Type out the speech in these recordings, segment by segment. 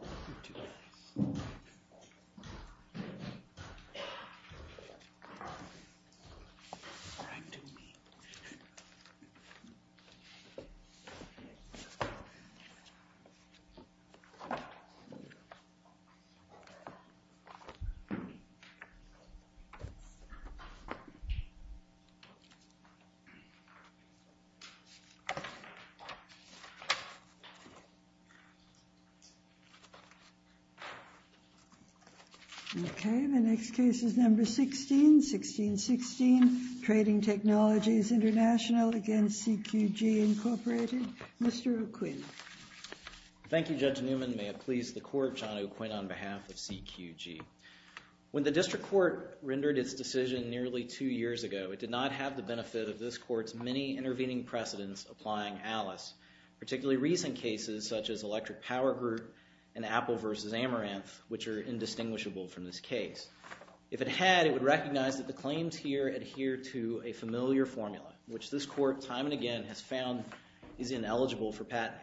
You do me. I do me. Okay, the next case is number 16, 1616, Trading Technologies Intl v. CQG, Inc. Mr. O'Quinn. Thank you, Judge Newman. May it please the Court, John O'Quinn on behalf of CQG. When the District Court rendered its decision nearly two years ago, it did not have the benefit of this Court's many intervening precedents applying Alice, particularly recent cases such as Electric Power Group and Apple v. Amaranth, which are indistinguishable from this case. If it had, it would recognize that the claims here adhere to a familiar formula, which this Court time and again has found is ineligible for patenting.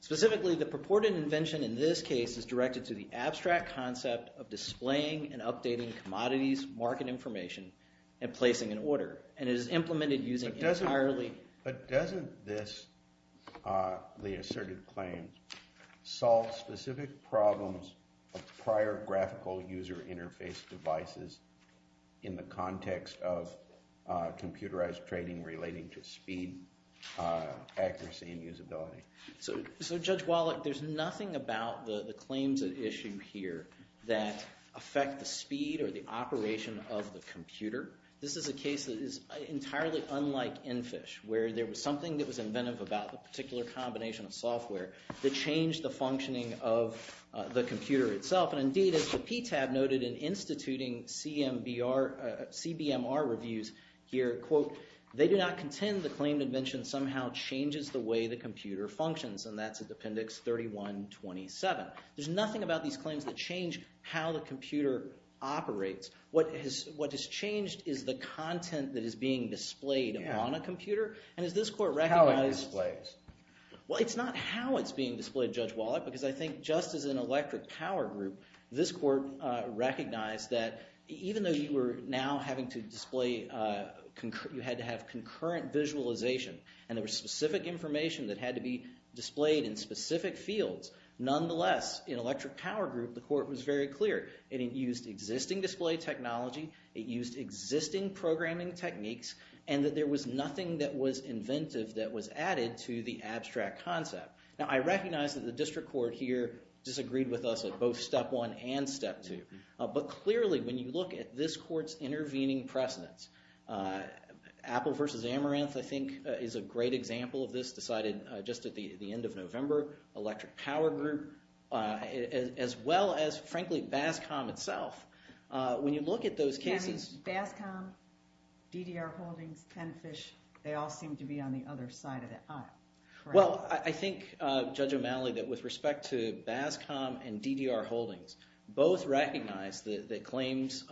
Specifically, the purported invention in this case is directed to the abstract concept of displaying and updating commodities market information and placing an order. And it is implemented using entirely- But doesn't this, the asserted claim, solve specific problems of prior graphical user interface devices in the context of computerized trading relating to speed, accuracy, and usability? So, Judge Wallach, there's nothing about the claims at issue here that affect the speed or the operation of the computer. This is a case that is entirely unlike EnFish, where there was something that was inventive about the particular combination of software that changed the functioning of the computer itself. And indeed, as the PTAB noted in instituting CBMR reviews here, quote, they do not contend the claimed invention somehow changes the way the computer functions, and that's at Appendix 3127. There's nothing about these claims that change how the computer operates. What has changed is the content that is being displayed on a computer. And as this Court recognized- How it displays. Well, it's not how it's being displayed, Judge Wallach, because I think just as an electric power group, this Court recognized that even though you were now having to display, you had to have concurrent visualization, and there was specific information that had to be displayed in specific fields, nonetheless, in electric power group, the Court was very clear. It used existing display technology, it used existing programming techniques, and that there was nothing that was inventive that was added to the abstract concept. Now, I recognize that the District Court here disagreed with us at both Step 1 and Step 2, but clearly, when you look at this Court's intervening precedence, Apple versus Amaranth, I think, is a great example of this decided just at the end of November, electric power group, as well as, frankly, BASCOM itself. When you look at those cases- You mean BASCOM, DDR Holdings, Penfish, they all seem to be on the other side of the aisle, correct? Well, I think, Judge O'Malley, that with respect to BASCOM and DDR Holdings, both recognize that the claims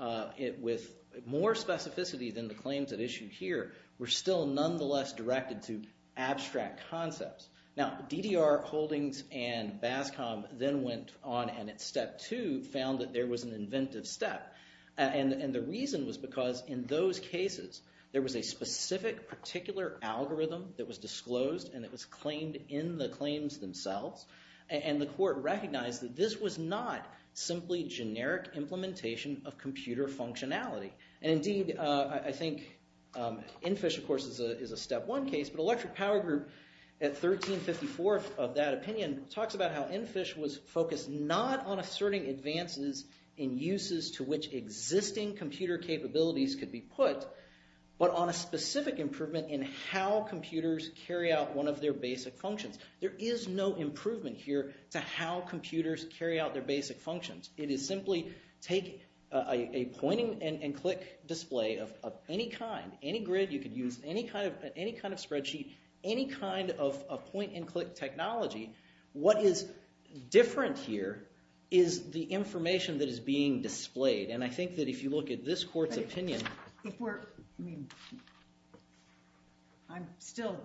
with more specificity than the claims at issue here were still nonetheless directed to abstract concepts. Now, DDR Holdings and BASCOM then went on, and at Step 2, found that there was an inventive step. And the reason was because in those cases, there was a specific, particular algorithm that was disclosed, and it was claimed in the claims themselves. And the Court recognized that this was not simply generic implementation of computer functionality. And, indeed, I think Enfish, of course, is a Step 1 case, but electric power group, at 1354 of that opinion, talks about how Enfish was focused not on asserting advances in uses to which existing computer capabilities could be put, but on a specific improvement in how computers carry out one of their basic functions. There is no improvement here to how computers carry out their basic functions. It is simply take a point-and-click display of any kind, any grid. You could use any kind of spreadsheet, any kind of point-and-click technology. What is different here is the information that is being displayed. And I think that if you look at this Court's opinion... I'm still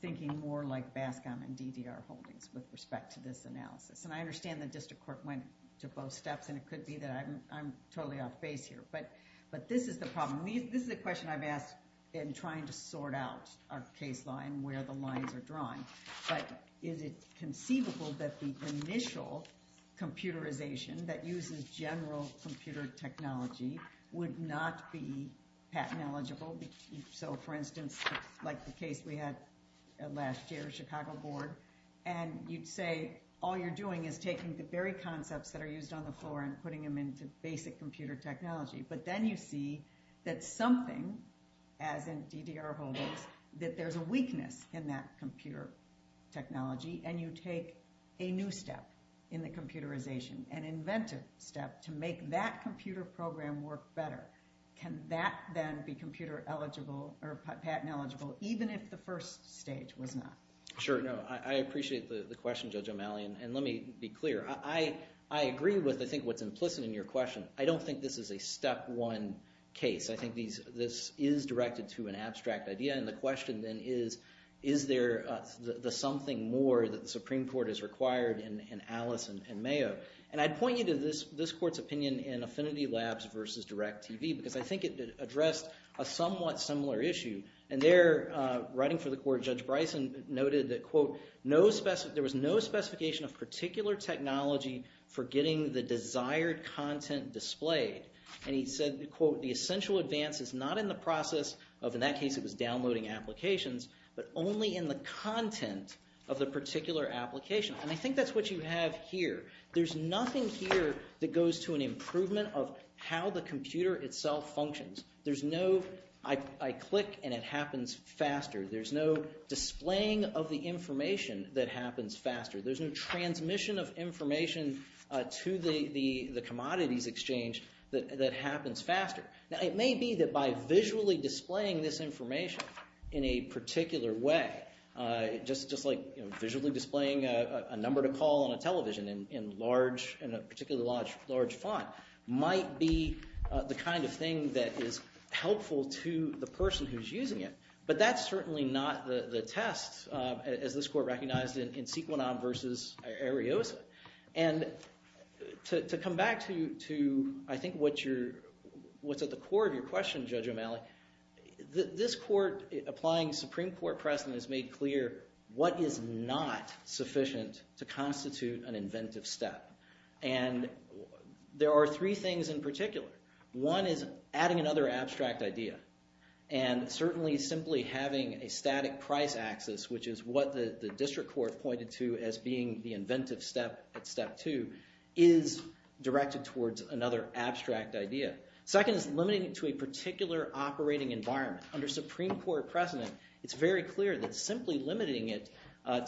thinking more like BASCOM and DDR Holdings with respect to this analysis. And I understand the District Court went to both steps, and it could be that I'm totally off base here. But this is the problem. This is the question I've asked in trying to sort out our case law and where the lines are drawn. But is it conceivable that the initial computerization that uses general computer technology would not be patent eligible? So, for instance, like the case we had last year, Chicago Board. And you'd say all you're doing is taking the very concepts that are used on the floor and putting them into basic computer technology. But then you see that something, as in DDR Holdings, that there's a weakness in that computer technology, and you take a new step in the computerization, an inventive step to make that computer program work better. Can that then be computer eligible or patent eligible, even if the first stage was not? Sure. No, I appreciate the question, Judge O'Malley, and let me be clear. I agree with, I think, what's implicit in your question. I don't think this is a step one case. I think this is directed to an abstract idea, and the question then is, is there something more that the Supreme Court has required in Alice and Mayo? And I'd point you to this court's opinion in Affinity Labs versus DirecTV, because I think it addressed a somewhat similar issue. And there, writing for the court, Judge Bryson noted that, quote, there was no specification of particular technology for getting the desired content displayed. And he said, quote, the essential advance is not in the process of, in that case it was downloading applications, but only in the content of the particular application. And I think that's what you have here. There's nothing here that goes to an improvement of how the computer itself functions. There's no, I click and it happens faster. There's no displaying of the information that happens faster. There's no transmission of information to the commodities exchange that happens faster. Now, it may be that by visually displaying this information in a particular way, just like visually displaying a number to call on a television in large, in a particularly large font, might be the kind of thing that is helpful to the person who's using it. But that's certainly not the test, as this court recognized in Sequinon versus Ariosa. And to come back to, I think, what's at the core of your question, Judge O'Malley, this court applying Supreme Court precedent has made clear what is not sufficient to constitute an inventive step. And there are three things in particular. One is adding another abstract idea, and certainly simply having a static price axis, which is what the district court pointed to as being the inventive step at step two, is directed towards another abstract idea. Second is limiting it to a particular operating environment. Under Supreme Court precedent, it's very clear that simply limiting it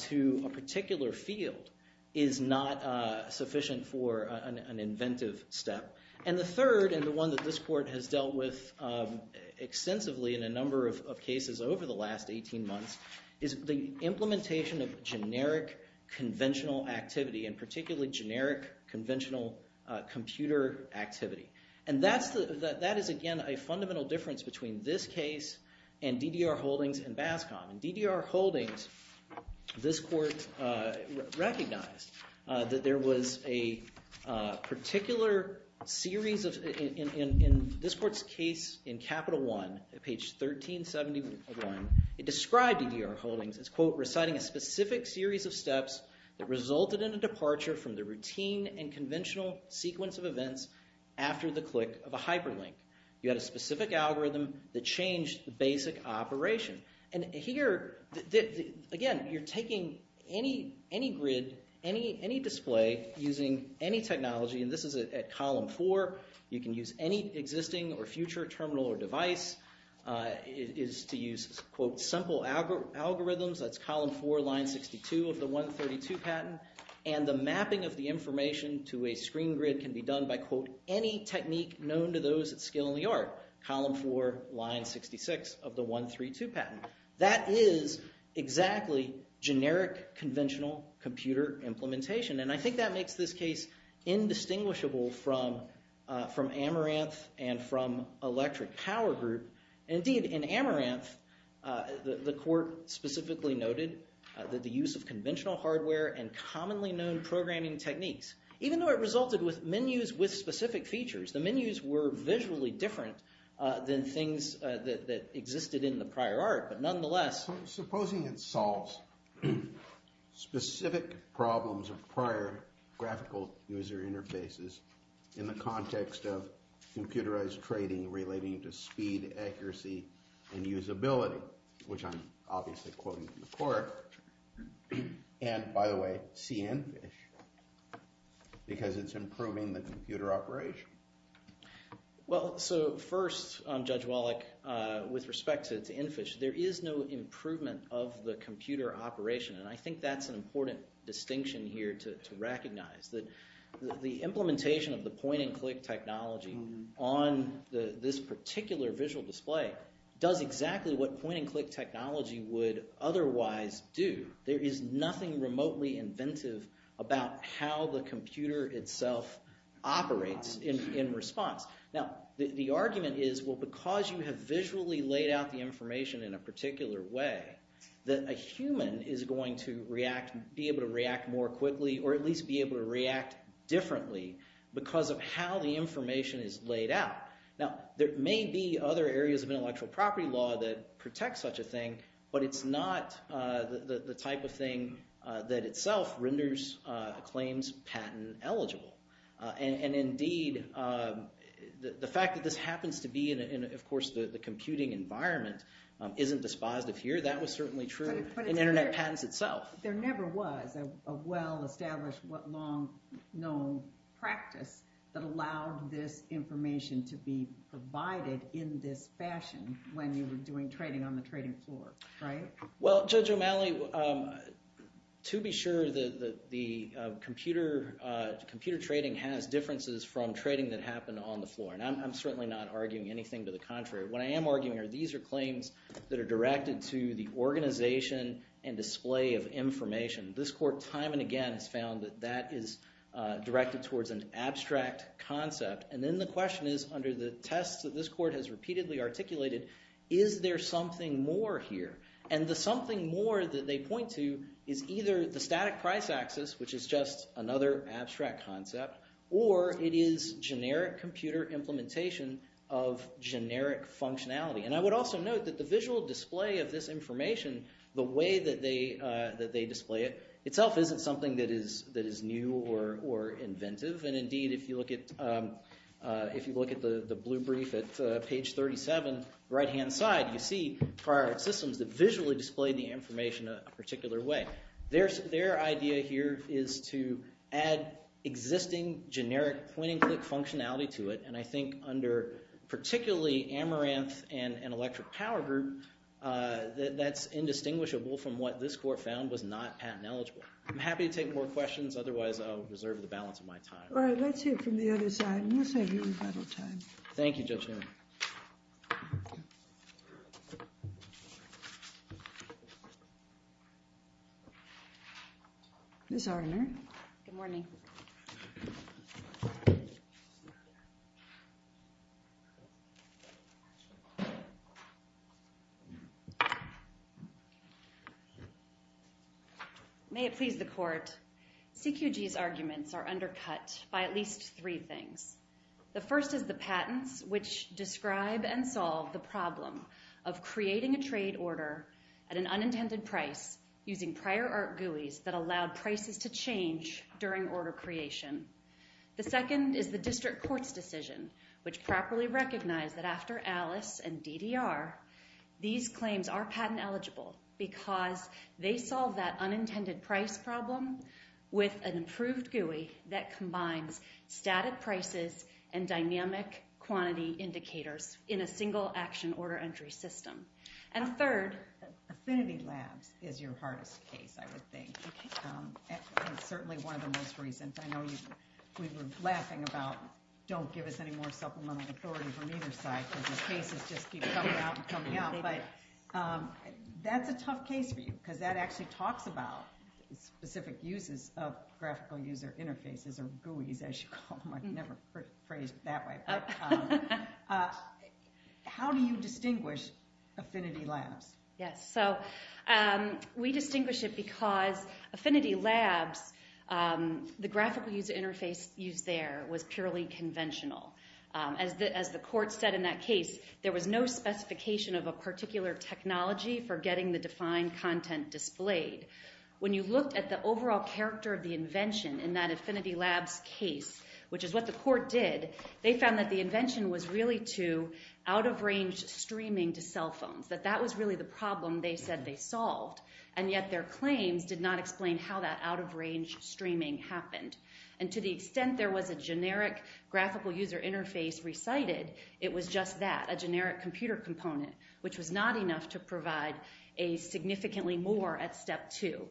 to a particular field is not sufficient for an inventive step. And the third, and the one that this court has dealt with extensively in a number of cases over the last 18 months, is the implementation of generic conventional activity, and particularly generic conventional computer activity. And that is, again, a fundamental difference between this case and DDR Holdings and BASCOM. In DDR Holdings, this court recognized that there was a particular series of, in this court's case in Capital One, page 1371, it described DDR Holdings as, quote, reciting a specific series of steps that resulted in a departure from the routine and conventional sequence of events after the click of a hyperlink. You had a specific algorithm that changed the basic operation. And here, again, you're taking any grid, any display, using any technology, and this is at column four. You can use any existing or future terminal or device. It is to use, quote, simple algorithms. That's column four, line 62 of the 132 patent. And the mapping of the information to a screen grid can be done by, quote, any technique known to those at skill in the art, column four, line 66 of the 132 patent. That is exactly generic conventional computer implementation. And I think that makes this case indistinguishable from Amaranth and from Electric Power Group. Indeed, in Amaranth, the court specifically noted that the use of conventional hardware and commonly known programming techniques, even though it resulted with menus with specific features, the menus were visually different than things that existed in the prior art, but nonetheless. Supposing it solves specific problems of prior graphical user interfaces in the context of computerized trading relating to speed, accuracy, and usability, which I'm obviously quoting from the court. And, by the way, CNFISH, because it's improving the computer operation. Well, so first, Judge Wallach, with respect to CNFISH, there is no improvement of the computer operation. And I think that's an important distinction here to recognize, that the implementation of the point-and-click technology on this particular visual display does exactly what point-and-click technology would otherwise do. There is nothing remotely inventive about how the computer itself operates in response. Now, the argument is, well, because you have visually laid out the information in a particular way, that a human is going to be able to react more quickly, or at least be able to react differently, because of how the information is laid out. Now, there may be other areas of intellectual property law that protect such a thing, but it's not the type of thing that itself renders claims patent eligible. And, indeed, the fact that this happens to be in, of course, the computing environment, isn't dispositive here. That was certainly true in internet patents itself. But there never was a well-established, long-known practice that allowed this information to be provided in this fashion when you were doing trading on the trading floor, right? Well, Judge O'Malley, to be sure, the computer trading has differences from trading that happened on the floor. And I'm certainly not arguing anything to the contrary. What I am arguing are these are claims that are directed to the organization and display of information. This court, time and again, has found that that is directed towards an abstract concept. And then the question is, under the tests that this court has repeatedly articulated, is there something more here? And the something more that they point to is either the static price axis, which is just another abstract concept, or it is generic computer implementation of generic functionality. And I would also note that the visual display of this information, the way that they display it, itself isn't something that is new or inventive. And, indeed, if you look at the blue brief at page 37, right-hand side, you see prior systems that visually display the information a particular way. Their idea here is to add existing generic point-and-click functionality to it. And I think under particularly Amaranth and Electric Power Group, that's indistinguishable from what this court found was not patent eligible. I'm happy to take more questions. Otherwise, I'll reserve the balance of my time. All right, let's hear it from the other side, and we'll save you rebuttal time. Thank you, Judge Newman. Ms. Hardimer. Good morning. May it please the court. CQG's arguments are undercut by at least three things. The first is the patents, which describe and solve the problem of creating a trade order at an unintended price using prior art GUIs that allowed prices to change during order creation. The second is the district court's decision, which properly recognized that after Alice and DDR, these claims are patent eligible because they solve that unintended price problem with an improved GUI that combines static prices and dynamic quantity indicators in a single-action order entry system. And third, Affinity Labs is your hardest case, I would think. It's certainly one of the most recent. I know we were laughing about don't give us any more supplemental authority from either side because the cases just keep coming out and coming out. But that's a tough case for you because that actually talks about specific uses of graphical user interfaces or GUIs, as you call them. I've never phrased it that way. How do you distinguish Affinity Labs? Yes. So we distinguish it because Affinity Labs, the graphical user interface used there was purely conventional. As the court said in that case, there was no specification of a particular technology for getting the defined content displayed. When you looked at the overall character of the invention in that Affinity Labs case, which is what the court did, they found that the invention was really to out-of-range streaming to cell phones, that that was really the problem they said they solved. And yet their claims did not explain how that out-of-range streaming happened. And to the extent there was a generic graphical user interface recited, it was just that, a generic computer component, which was not enough to provide significantly more at step two.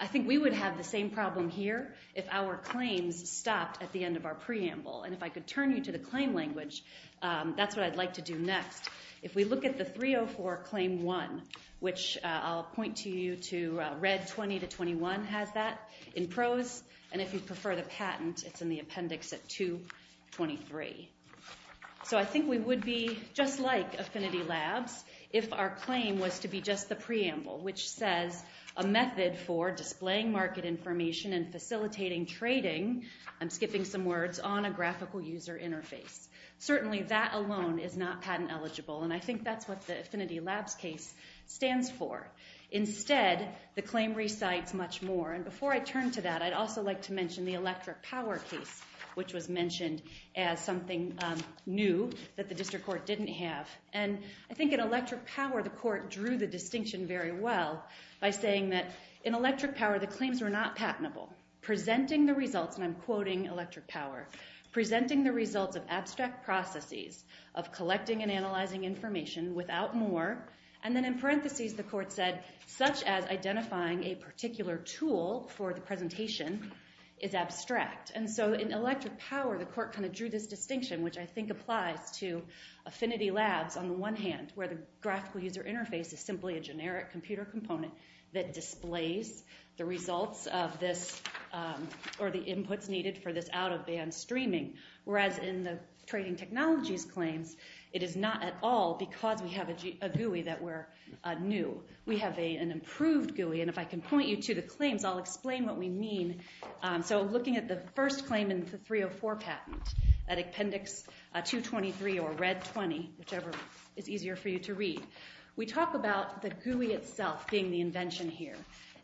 I think we would have the same problem here if our claims stopped at the end of our preamble. And if I could turn you to the claim language, that's what I'd like to do next. If we look at the 304 Claim 1, which I'll point to you to read 20 to 21 has that in prose. And if you prefer the patent, it's in the appendix at 223. So I think we would be just like Affinity Labs if our claim was to be just the preamble, which says a method for displaying market information and facilitating trading, I'm skipping some words, on a graphical user interface. Certainly that alone is not patent eligible. And I think that's what the Affinity Labs case stands for. Instead, the claim recites much more. And before I turn to that, I'd also like to mention the electric power case, which was mentioned as something new that the district court didn't have. And I think in electric power, the court drew the distinction very well by saying that in electric power, the claims were not patentable. Presenting the results, and I'm quoting electric power, presenting the results of abstract processes of collecting and analyzing information without more. And then in parentheses, the court said, such as identifying a particular tool for the presentation is abstract. And so in electric power, the court kind of drew this distinction, which I think applies to Affinity Labs on the one hand, where the graphical user interface is simply a generic computer component that displays the results of this or the inputs needed for this out-of-band streaming. Whereas in the trading technologies claims, it is not at all because we have a GUI that we're new. We have an improved GUI. And if I can point you to the claims, I'll explain what we mean. So looking at the first claim in the 304 patent, that appendix 223 or red 20, whichever is easier for you to read, we talk about the GUI itself being the invention here.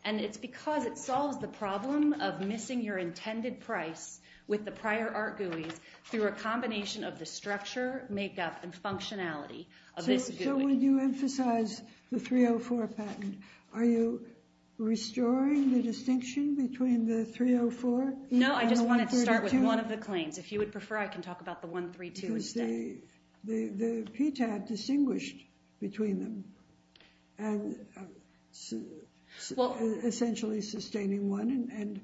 And it's because it solves the problem of missing your intended price with the prior art GUIs through a combination of the structure, makeup, and functionality of this GUI. So when you emphasize the 304 patent, are you restoring the distinction between the 304 and the 132? No, I just wanted to start with one of the claims. If you would prefer, I can talk about the 132 instead. Because the PTAB distinguished between them and essentially sustaining one and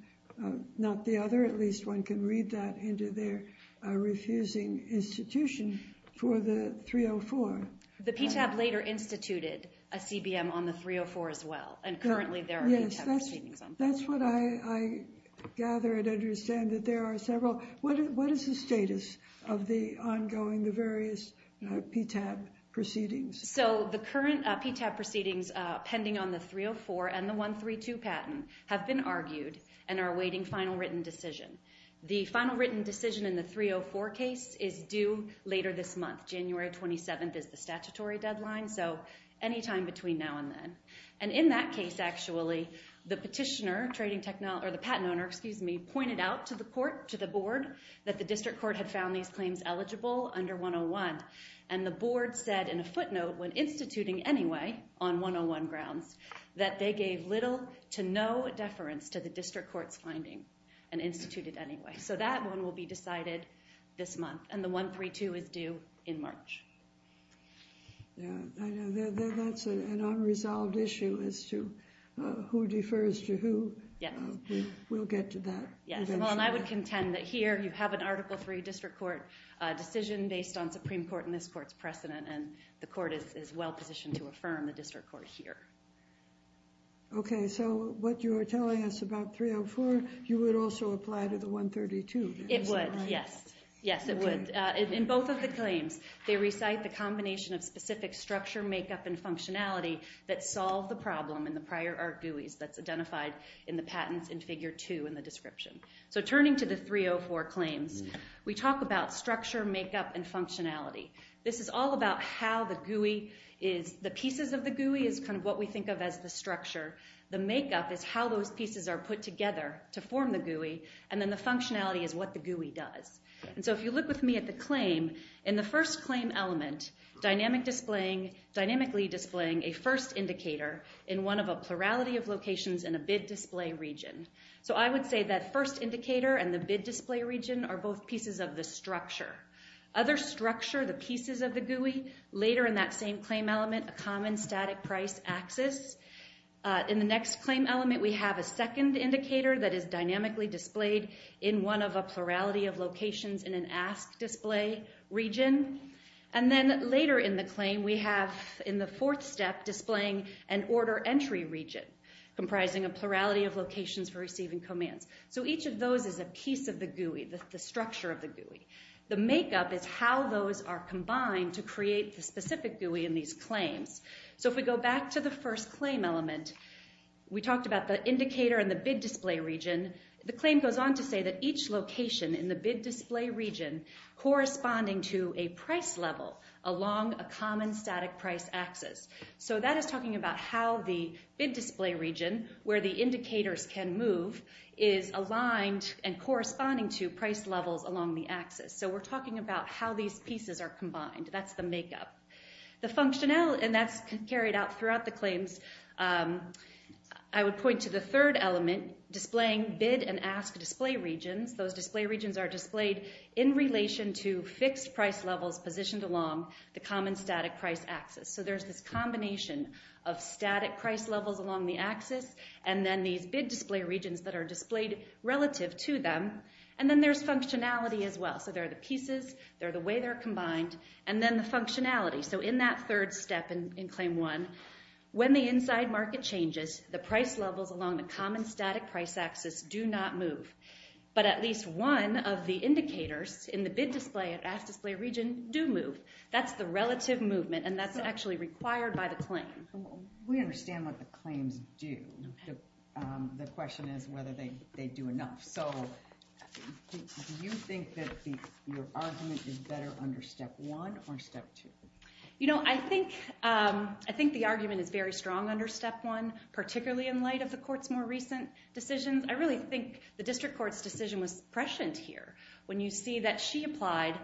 not the other. At least one can read that into their refusing institution for the 304. The PTAB later instituted a CBM on the 304 as well. And currently there are PTAB proceedings on both. That's what I gather and understand that there are several. What is the status of the ongoing various PTAB proceedings? So the current PTAB proceedings pending on the 304 and the 132 patent have been argued and are awaiting final written decision. The final written decision in the 304 case is due later this month. January 27th is the statutory deadline, so any time between now and then. And in that case, actually, the petitioner, the patent owner, pointed out to the board that the district court had found these claims eligible under 101. And the board said in a footnote when instituting anyway on 101 grounds that they gave little to no deference to the district court's finding and instituted anyway. So that one will be decided this month. And the 132 is due in March. That's an unresolved issue as to who defers to who. We'll get to that. And I would contend that here you have an Article III district court decision based on Supreme Court and this court's precedent. And the court is well positioned to affirm the district court here. Okay, so what you are telling us about 304, you would also apply to the 132. It would, yes. Yes, it would. In both of the claims, they recite the combination of specific structure, makeup, and functionality that solve the problem in the prior art GUIs that's identified in the patents in Figure 2 in the description. So turning to the 304 claims, we talk about structure, makeup, and functionality. This is all about how the GUI is. The pieces of the GUI is kind of what we think of as the structure. The makeup is how those pieces are put together to form the GUI. And then the functionality is what the GUI does. So if you look with me at the claim, in the first claim element, dynamically displaying a first indicator in one of a plurality of locations in a bid display region. So I would say that first indicator and the bid display region are both pieces of the structure. Other structure, the pieces of the GUI, later in that same claim element, a common static price axis. In the next claim element, we have a second indicator that is dynamically displayed in one of a plurality of locations in an ask display region. And then later in the claim, we have in the fourth step displaying an order entry region, comprising a plurality of locations for receiving commands. So each of those is a piece of the GUI, the structure of the GUI. The makeup is how those are combined to create the specific GUI in these claims. So if we go back to the first claim element, we talked about the indicator and the bid display region. The claim goes on to say that each location in the bid display region corresponding to a price level along a common static price axis. So that is talking about how the bid display region, where the indicators can move, is aligned and corresponding to price levels along the axis. So we're talking about how these pieces are combined. That's the makeup. And that's carried out throughout the claims. I would point to the third element, displaying bid and ask display regions. Those display regions are displayed in relation to fixed price levels positioned along the common static price axis. So there's this combination of static price levels along the axis and then these bid display regions that are displayed relative to them. And then there's functionality as well. So there are the pieces, there are the way they're combined, and then the functionality. So in that third step in Claim 1, when the inside market changes, the price levels along the common static price axis do not move. But at least one of the indicators in the bid display and ask display region do move. That's the relative movement, and that's actually required by the claim. We understand what the claims do. The question is whether they do enough. So do you think that your argument is better under Step 1 or Step 2? I think the argument is very strong under Step 1, particularly in light of the court's more recent decisions. I really think the district court's decision was prescient here when you see that she applied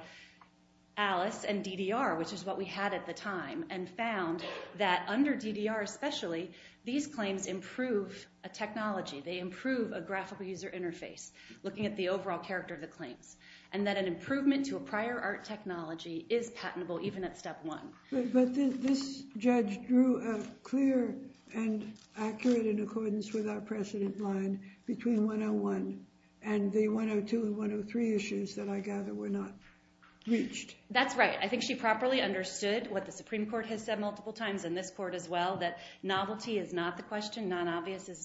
ALICE and DDR, which is what we had at the time, and found that under DDR especially, these claims improve a technology. They improve a graphical user interface, looking at the overall character of the claims, and that an improvement to a prior art technology is patentable even at Step 1. But this judge drew a clear and accurate, in accordance with our precedent line, between 101 and the 102 and 103 issues that I gather were not reached. That's right. I think she properly understood what the Supreme Court has said multiple times and this court as well, that novelty is not the question. Non-obviousness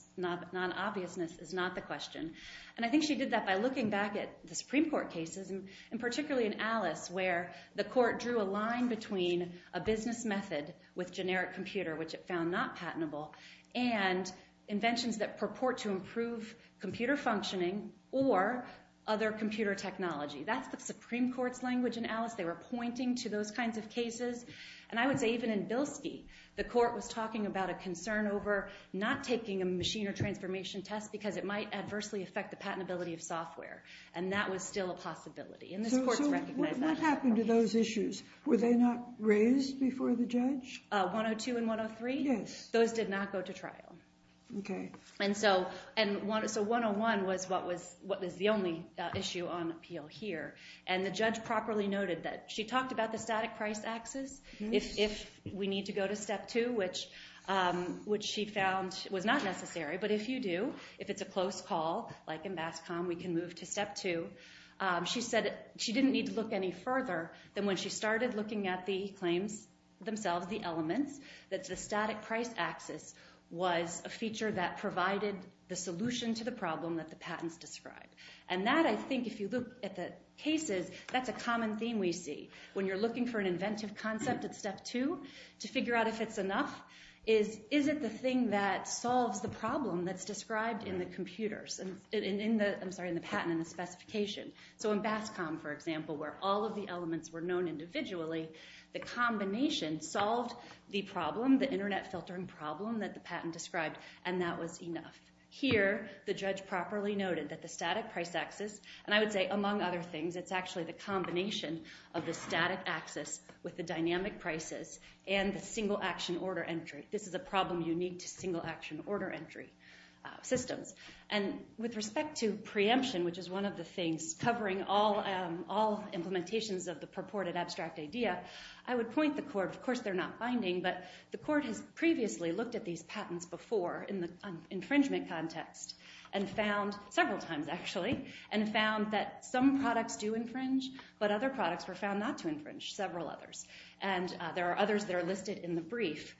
is not the question. And I think she did that by looking back at the Supreme Court cases, and particularly in ALICE, where the court drew a line between a business method with generic computer, which it found not patentable, and inventions that purport to improve computer functioning or other computer technology. That's the Supreme Court's language in ALICE. They were pointing to those kinds of cases. And I would say even in Bilski, the court was talking about a concern over not taking a machine or transformation test because it might adversely affect the patentability of software. And that was still a possibility. So what happened to those issues? Were they not raised before the judge? 102 and 103? Yes. Those did not go to trial. Okay. And so 101 was the only issue on appeal here. And the judge properly noted that she talked about the static price axis. If we need to go to step two, which she found was not necessary, but if you do, if it's a close call, like in BASCOM, we can move to step two. She said she didn't need to look any further than when she started looking at the claims themselves, the elements, that the static price axis was a feature that provided the solution to the problem that the patents described. And that, I think, if you look at the cases, that's a common theme we see. When you're looking for an inventive concept at step two to figure out if it's enough, is it the thing that solves the problem that's described in the patent and the specification? So in BASCOM, for example, where all of the elements were known individually, the combination solved the problem, the internet filtering problem that the patent described, and that was enough. Here, the judge properly noted that the static price axis, and I would say among other things, it's actually the combination of the static axis with the dynamic prices and the single action order entry. This is a problem unique to single action order entry systems. And with respect to preemption, which is one of the things covering all implementations of the purported abstract idea, I would point the court, of course they're not binding, but the court has previously looked at these patents before in the infringement context and found, several times actually, and found that some products do infringe, but other products were found not to infringe, several others. And there are others that are listed in the brief,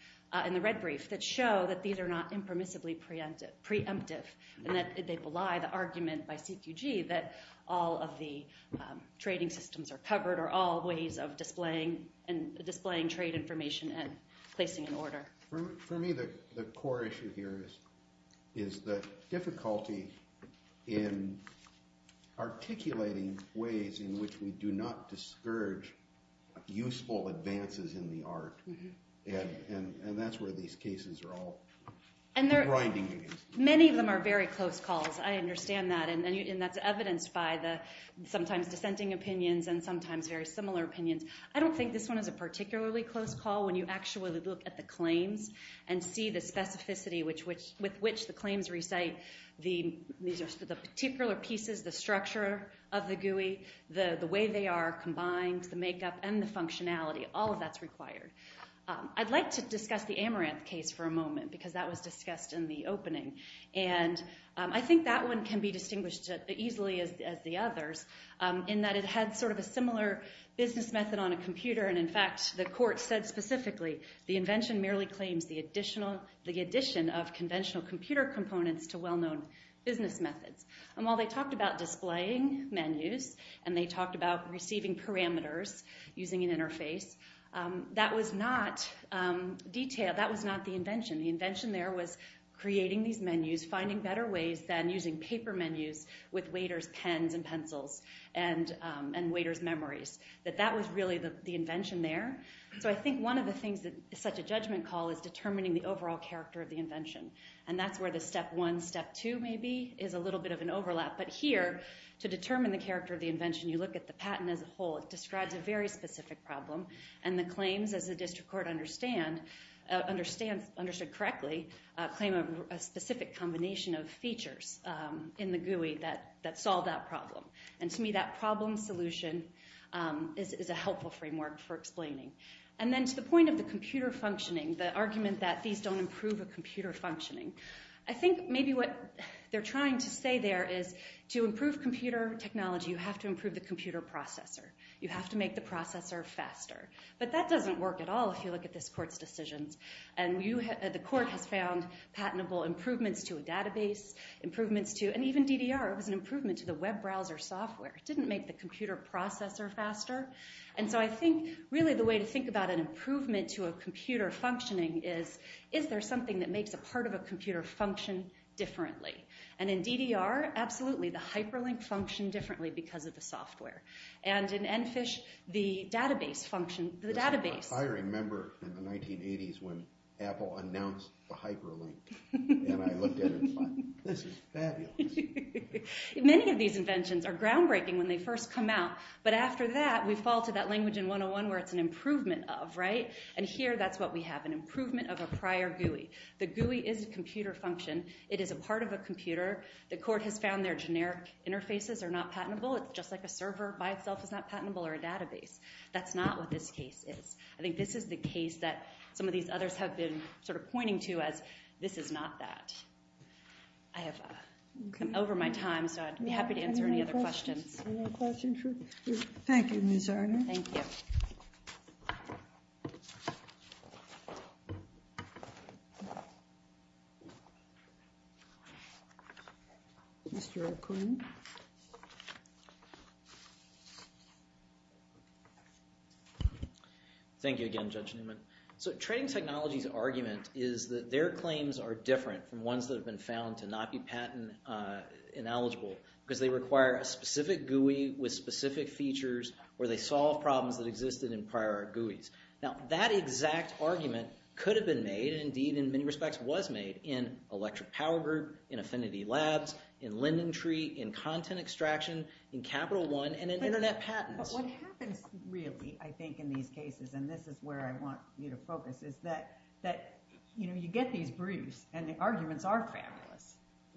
in the red brief, that show that these are not impermissibly preemptive and that they belie the argument by CQG that all of the trading systems are covered or all ways of displaying trade information and placing an order. For me, the core issue here is the difficulty in articulating ways in which we do not discourage useful advances in the art. And that's where these cases are all grinding against each other. Many of them are very close calls, I understand that, and that's evidenced by the sometimes dissenting opinions and sometimes very similar opinions. I don't think this one is a particularly close call when you actually look at the claims and see the specificity with which the claims recite the particular pieces, the structure of the GUI, the way they are combined, the makeup and the functionality. All of that's required. I'd like to discuss the Amaranth case for a moment because that was discussed in the opening. And I think that one can be distinguished easily as the others in that it had sort of a similar business method on a computer and, in fact, the court said specifically the invention merely claims the addition of conventional computer components to well-known business methods. And while they talked about displaying menus and they talked about receiving parameters using an interface, that was not the invention. The invention there was creating these menus, finding better ways than using paper menus with waiter's pens and pencils and waiter's memories. That was really the invention there. So I think one of the things that is such a judgment call is determining the overall character of the invention. And that's where the step one, step two, maybe, is a little bit of an overlap. But here, to determine the character of the invention, you look at the patent as a whole. It describes a very specific problem, and the claims, as the district court understood correctly, claim a specific combination of features in the GUI that solve that problem. And to me, that problem solution is a helpful framework for explaining. And then to the point of the computer functioning, the argument that these don't improve a computer functioning, I think maybe what they're trying to say there is to improve computer technology, you have to improve the computer processor. You have to make the processor faster. But that doesn't work at all if you look at this court's decisions. And the court has found patentable improvements to a database, improvements to, and even DDR, it was an improvement to the web browser software. It didn't make the computer processor faster. And so I think, really, the way to think about an improvement to a computer functioning is, is there something that makes a part of a computer function differently? And in DDR, absolutely, the hyperlink functioned differently because of the software. And in Enfish, the database functioned, the database... I remember in the 1980s when Apple announced the hyperlink, and I looked at it and thought, this is fabulous. Many of these inventions are groundbreaking when they first come out, but after that, we fall to that language in 101 where it's an improvement of, right? And here, that's what we have, an improvement of a prior GUI. The GUI is a computer function. It is a part of a computer. The court has found their generic interfaces are not patentable. It's just like a server by itself is not patentable, or a database. That's not what this case is. I think this is the case that some of these others have been sort of pointing to as, this is not that. I have come over my time, so I'd be happy to answer any other questions. Any more questions? Thank you, Ms. Arner. Thank you. Mr. O'Quinn. Thank you again, Judge Newman. Trading Technologies' argument is that their claims are different from ones that have been found to not be patent ineligible because they require a specific GUI with specific features where they solve problems that existed in prior GUIs. Now, that exact argument could have been made, and indeed, in many respects, was made, in Electric Power Group, in Affinity Labs, in LendingTree, in Content Extraction, in Capital One, and in Internet Patents. But what happens really, I think, in these cases, and this is where I want you to focus, is that you get these briefs, and the arguments are fabulous.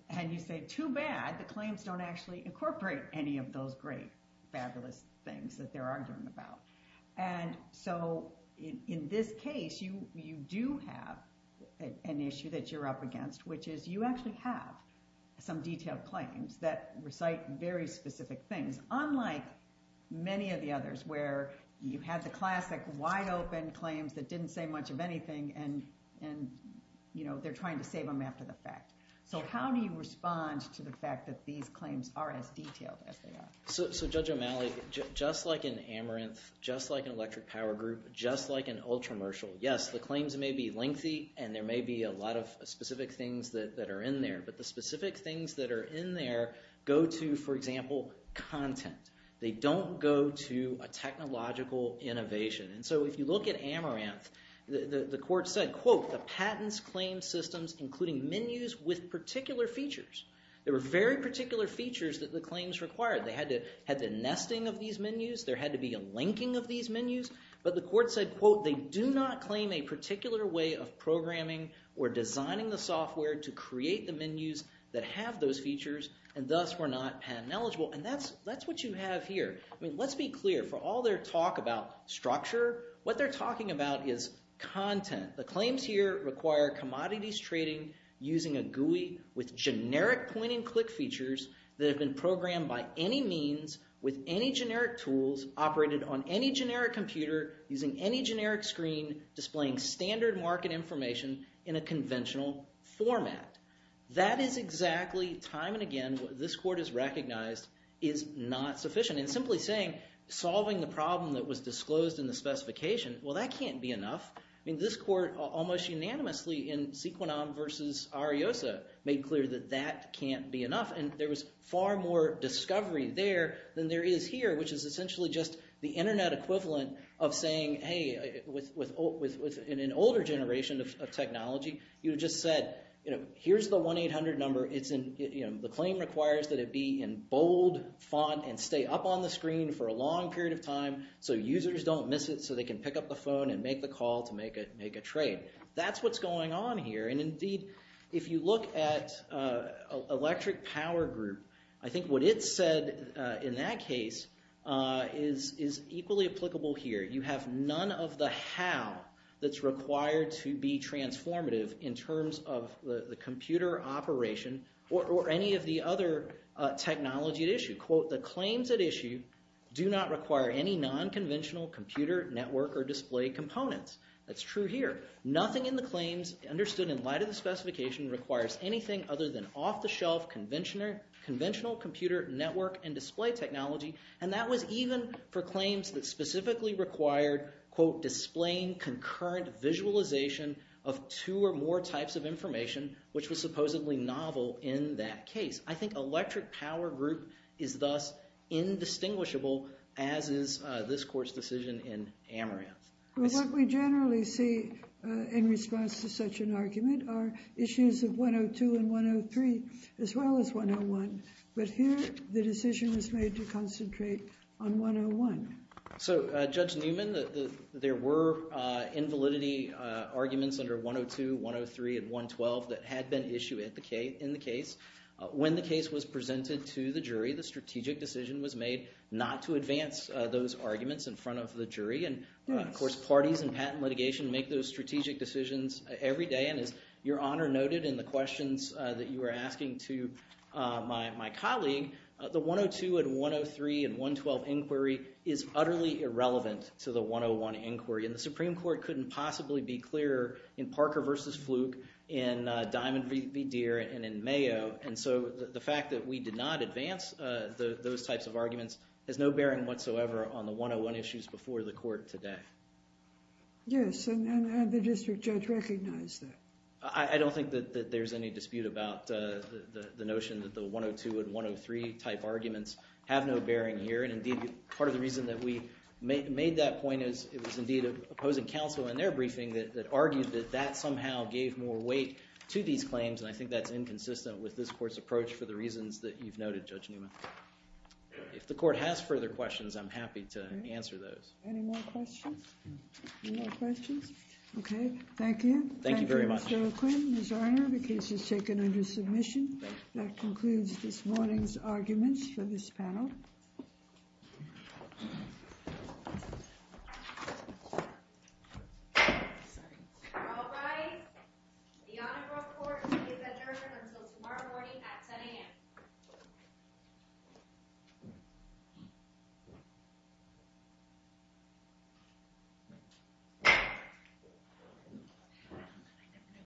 And you say, too bad the claims don't actually incorporate any of those great, fabulous things that they're arguing about. And so in this case, you do have an issue that you're up against, which is you actually have some detailed claims that recite very specific things, unlike many of the others where you had the classic wide-open claims that didn't say much of anything, and they're trying to save them after the fact. So how do you respond to the fact that these claims are as detailed as they are? So Judge O'Malley, just like in Amaranth, just like in Electric Power Group, just like in Ultramercial, yes, the claims may be lengthy, and there may be a lot of specific things that are in there, but the specific things that are in there go to, for example, content. They don't go to a technological innovation. And so if you look at Amaranth, the court said, quote, the patents claim systems including menus with particular features. There were very particular features that the claims required. They had the nesting of these menus. There had to be a linking of these menus. But the court said, quote, they do not claim a particular way of programming or designing the software to create the menus that have those features, and thus were not patent-eligible. And that's what you have here. I mean, let's be clear. For all their talk about structure, what they're talking about is content. The claims here require commodities trading using a GUI with generic point-and-click features that have been programmed by any means with any generic tools, operated on any generic computer, using any generic screen, displaying standard market information in a conventional format. That is exactly, time and again, what this court has recognized is not sufficient. And simply saying, solving the problem that was disclosed in the specification, well, that can't be enough. I mean, this court almost unanimously, in Sequanam versus Ariosa, made clear that that can't be enough. And there was far more discovery there than there is here, which is essentially just the Internet equivalent of saying, hey, with an older generation of technology, you just said, you know, here's the 1-800 number. The claim requires that it be in bold font and stay up on the screen for a long period of time so users don't miss it, so they can pick up the phone and make the call to make a trade. That's what's going on here. And indeed, if you look at Electric Power Group, I think what it said in that case is equally applicable here. You have none of the how that's required to be transformative in terms of the computer operation or any of the other technology at issue. Quote, the claims at issue do not require any non-conventional computer network or display components. That's true here. Nothing in the claims understood in light of the specification requires anything other than off-the-shelf conventional computer network and display technology. And that was even for claims that specifically required, quote, displaying concurrent visualization of two or more types of information, which was supposedly novel in that case. I think Electric Power Group is thus indistinguishable, as is this court's decision in Amaranth. What we generally see in response to such an argument are issues of 102 and 103, as well as 101, but here the decision was made to concentrate on 101. So, Judge Newman, there were invalidity arguments under 102, 103, and 112 that had been issued in the case. When the case was presented to the jury, the strategic decision was made not to advance those arguments in front of the jury, and, of course, parties in patent litigation make those strategic decisions every day, and as Your Honor noted in the questions that you were asking to my colleague, the 102 and 103 and 112 inquiry is utterly irrelevant to the 101 inquiry, and the Supreme Court couldn't possibly be clearer in Parker v. Fluke, in Diamond v. Deere, and in Mayo, and so the fact that we did not advance those types of arguments has no bearing whatsoever on the 101 issues before the court today. Yes, and the district judge recognized that. I don't think that there's any dispute about the notion that the 102 and 103 type arguments have no bearing here, and, indeed, part of the reason that we made that point is it was, indeed, opposing counsel in their briefing that argued that that somehow gave more weight to these claims, and I think that's inconsistent with this court's approach for the reasons that you've noted, Judge Newman. If the court has further questions, I'm happy to answer those. Any more questions? Okay, thank you. Thank you very much. Adequate, Ms. Arnor, the case is taken under submission. That concludes this morning's arguments for this panel. All rise. The Honorable Court will be adjourned until tomorrow morning at 10 a.m.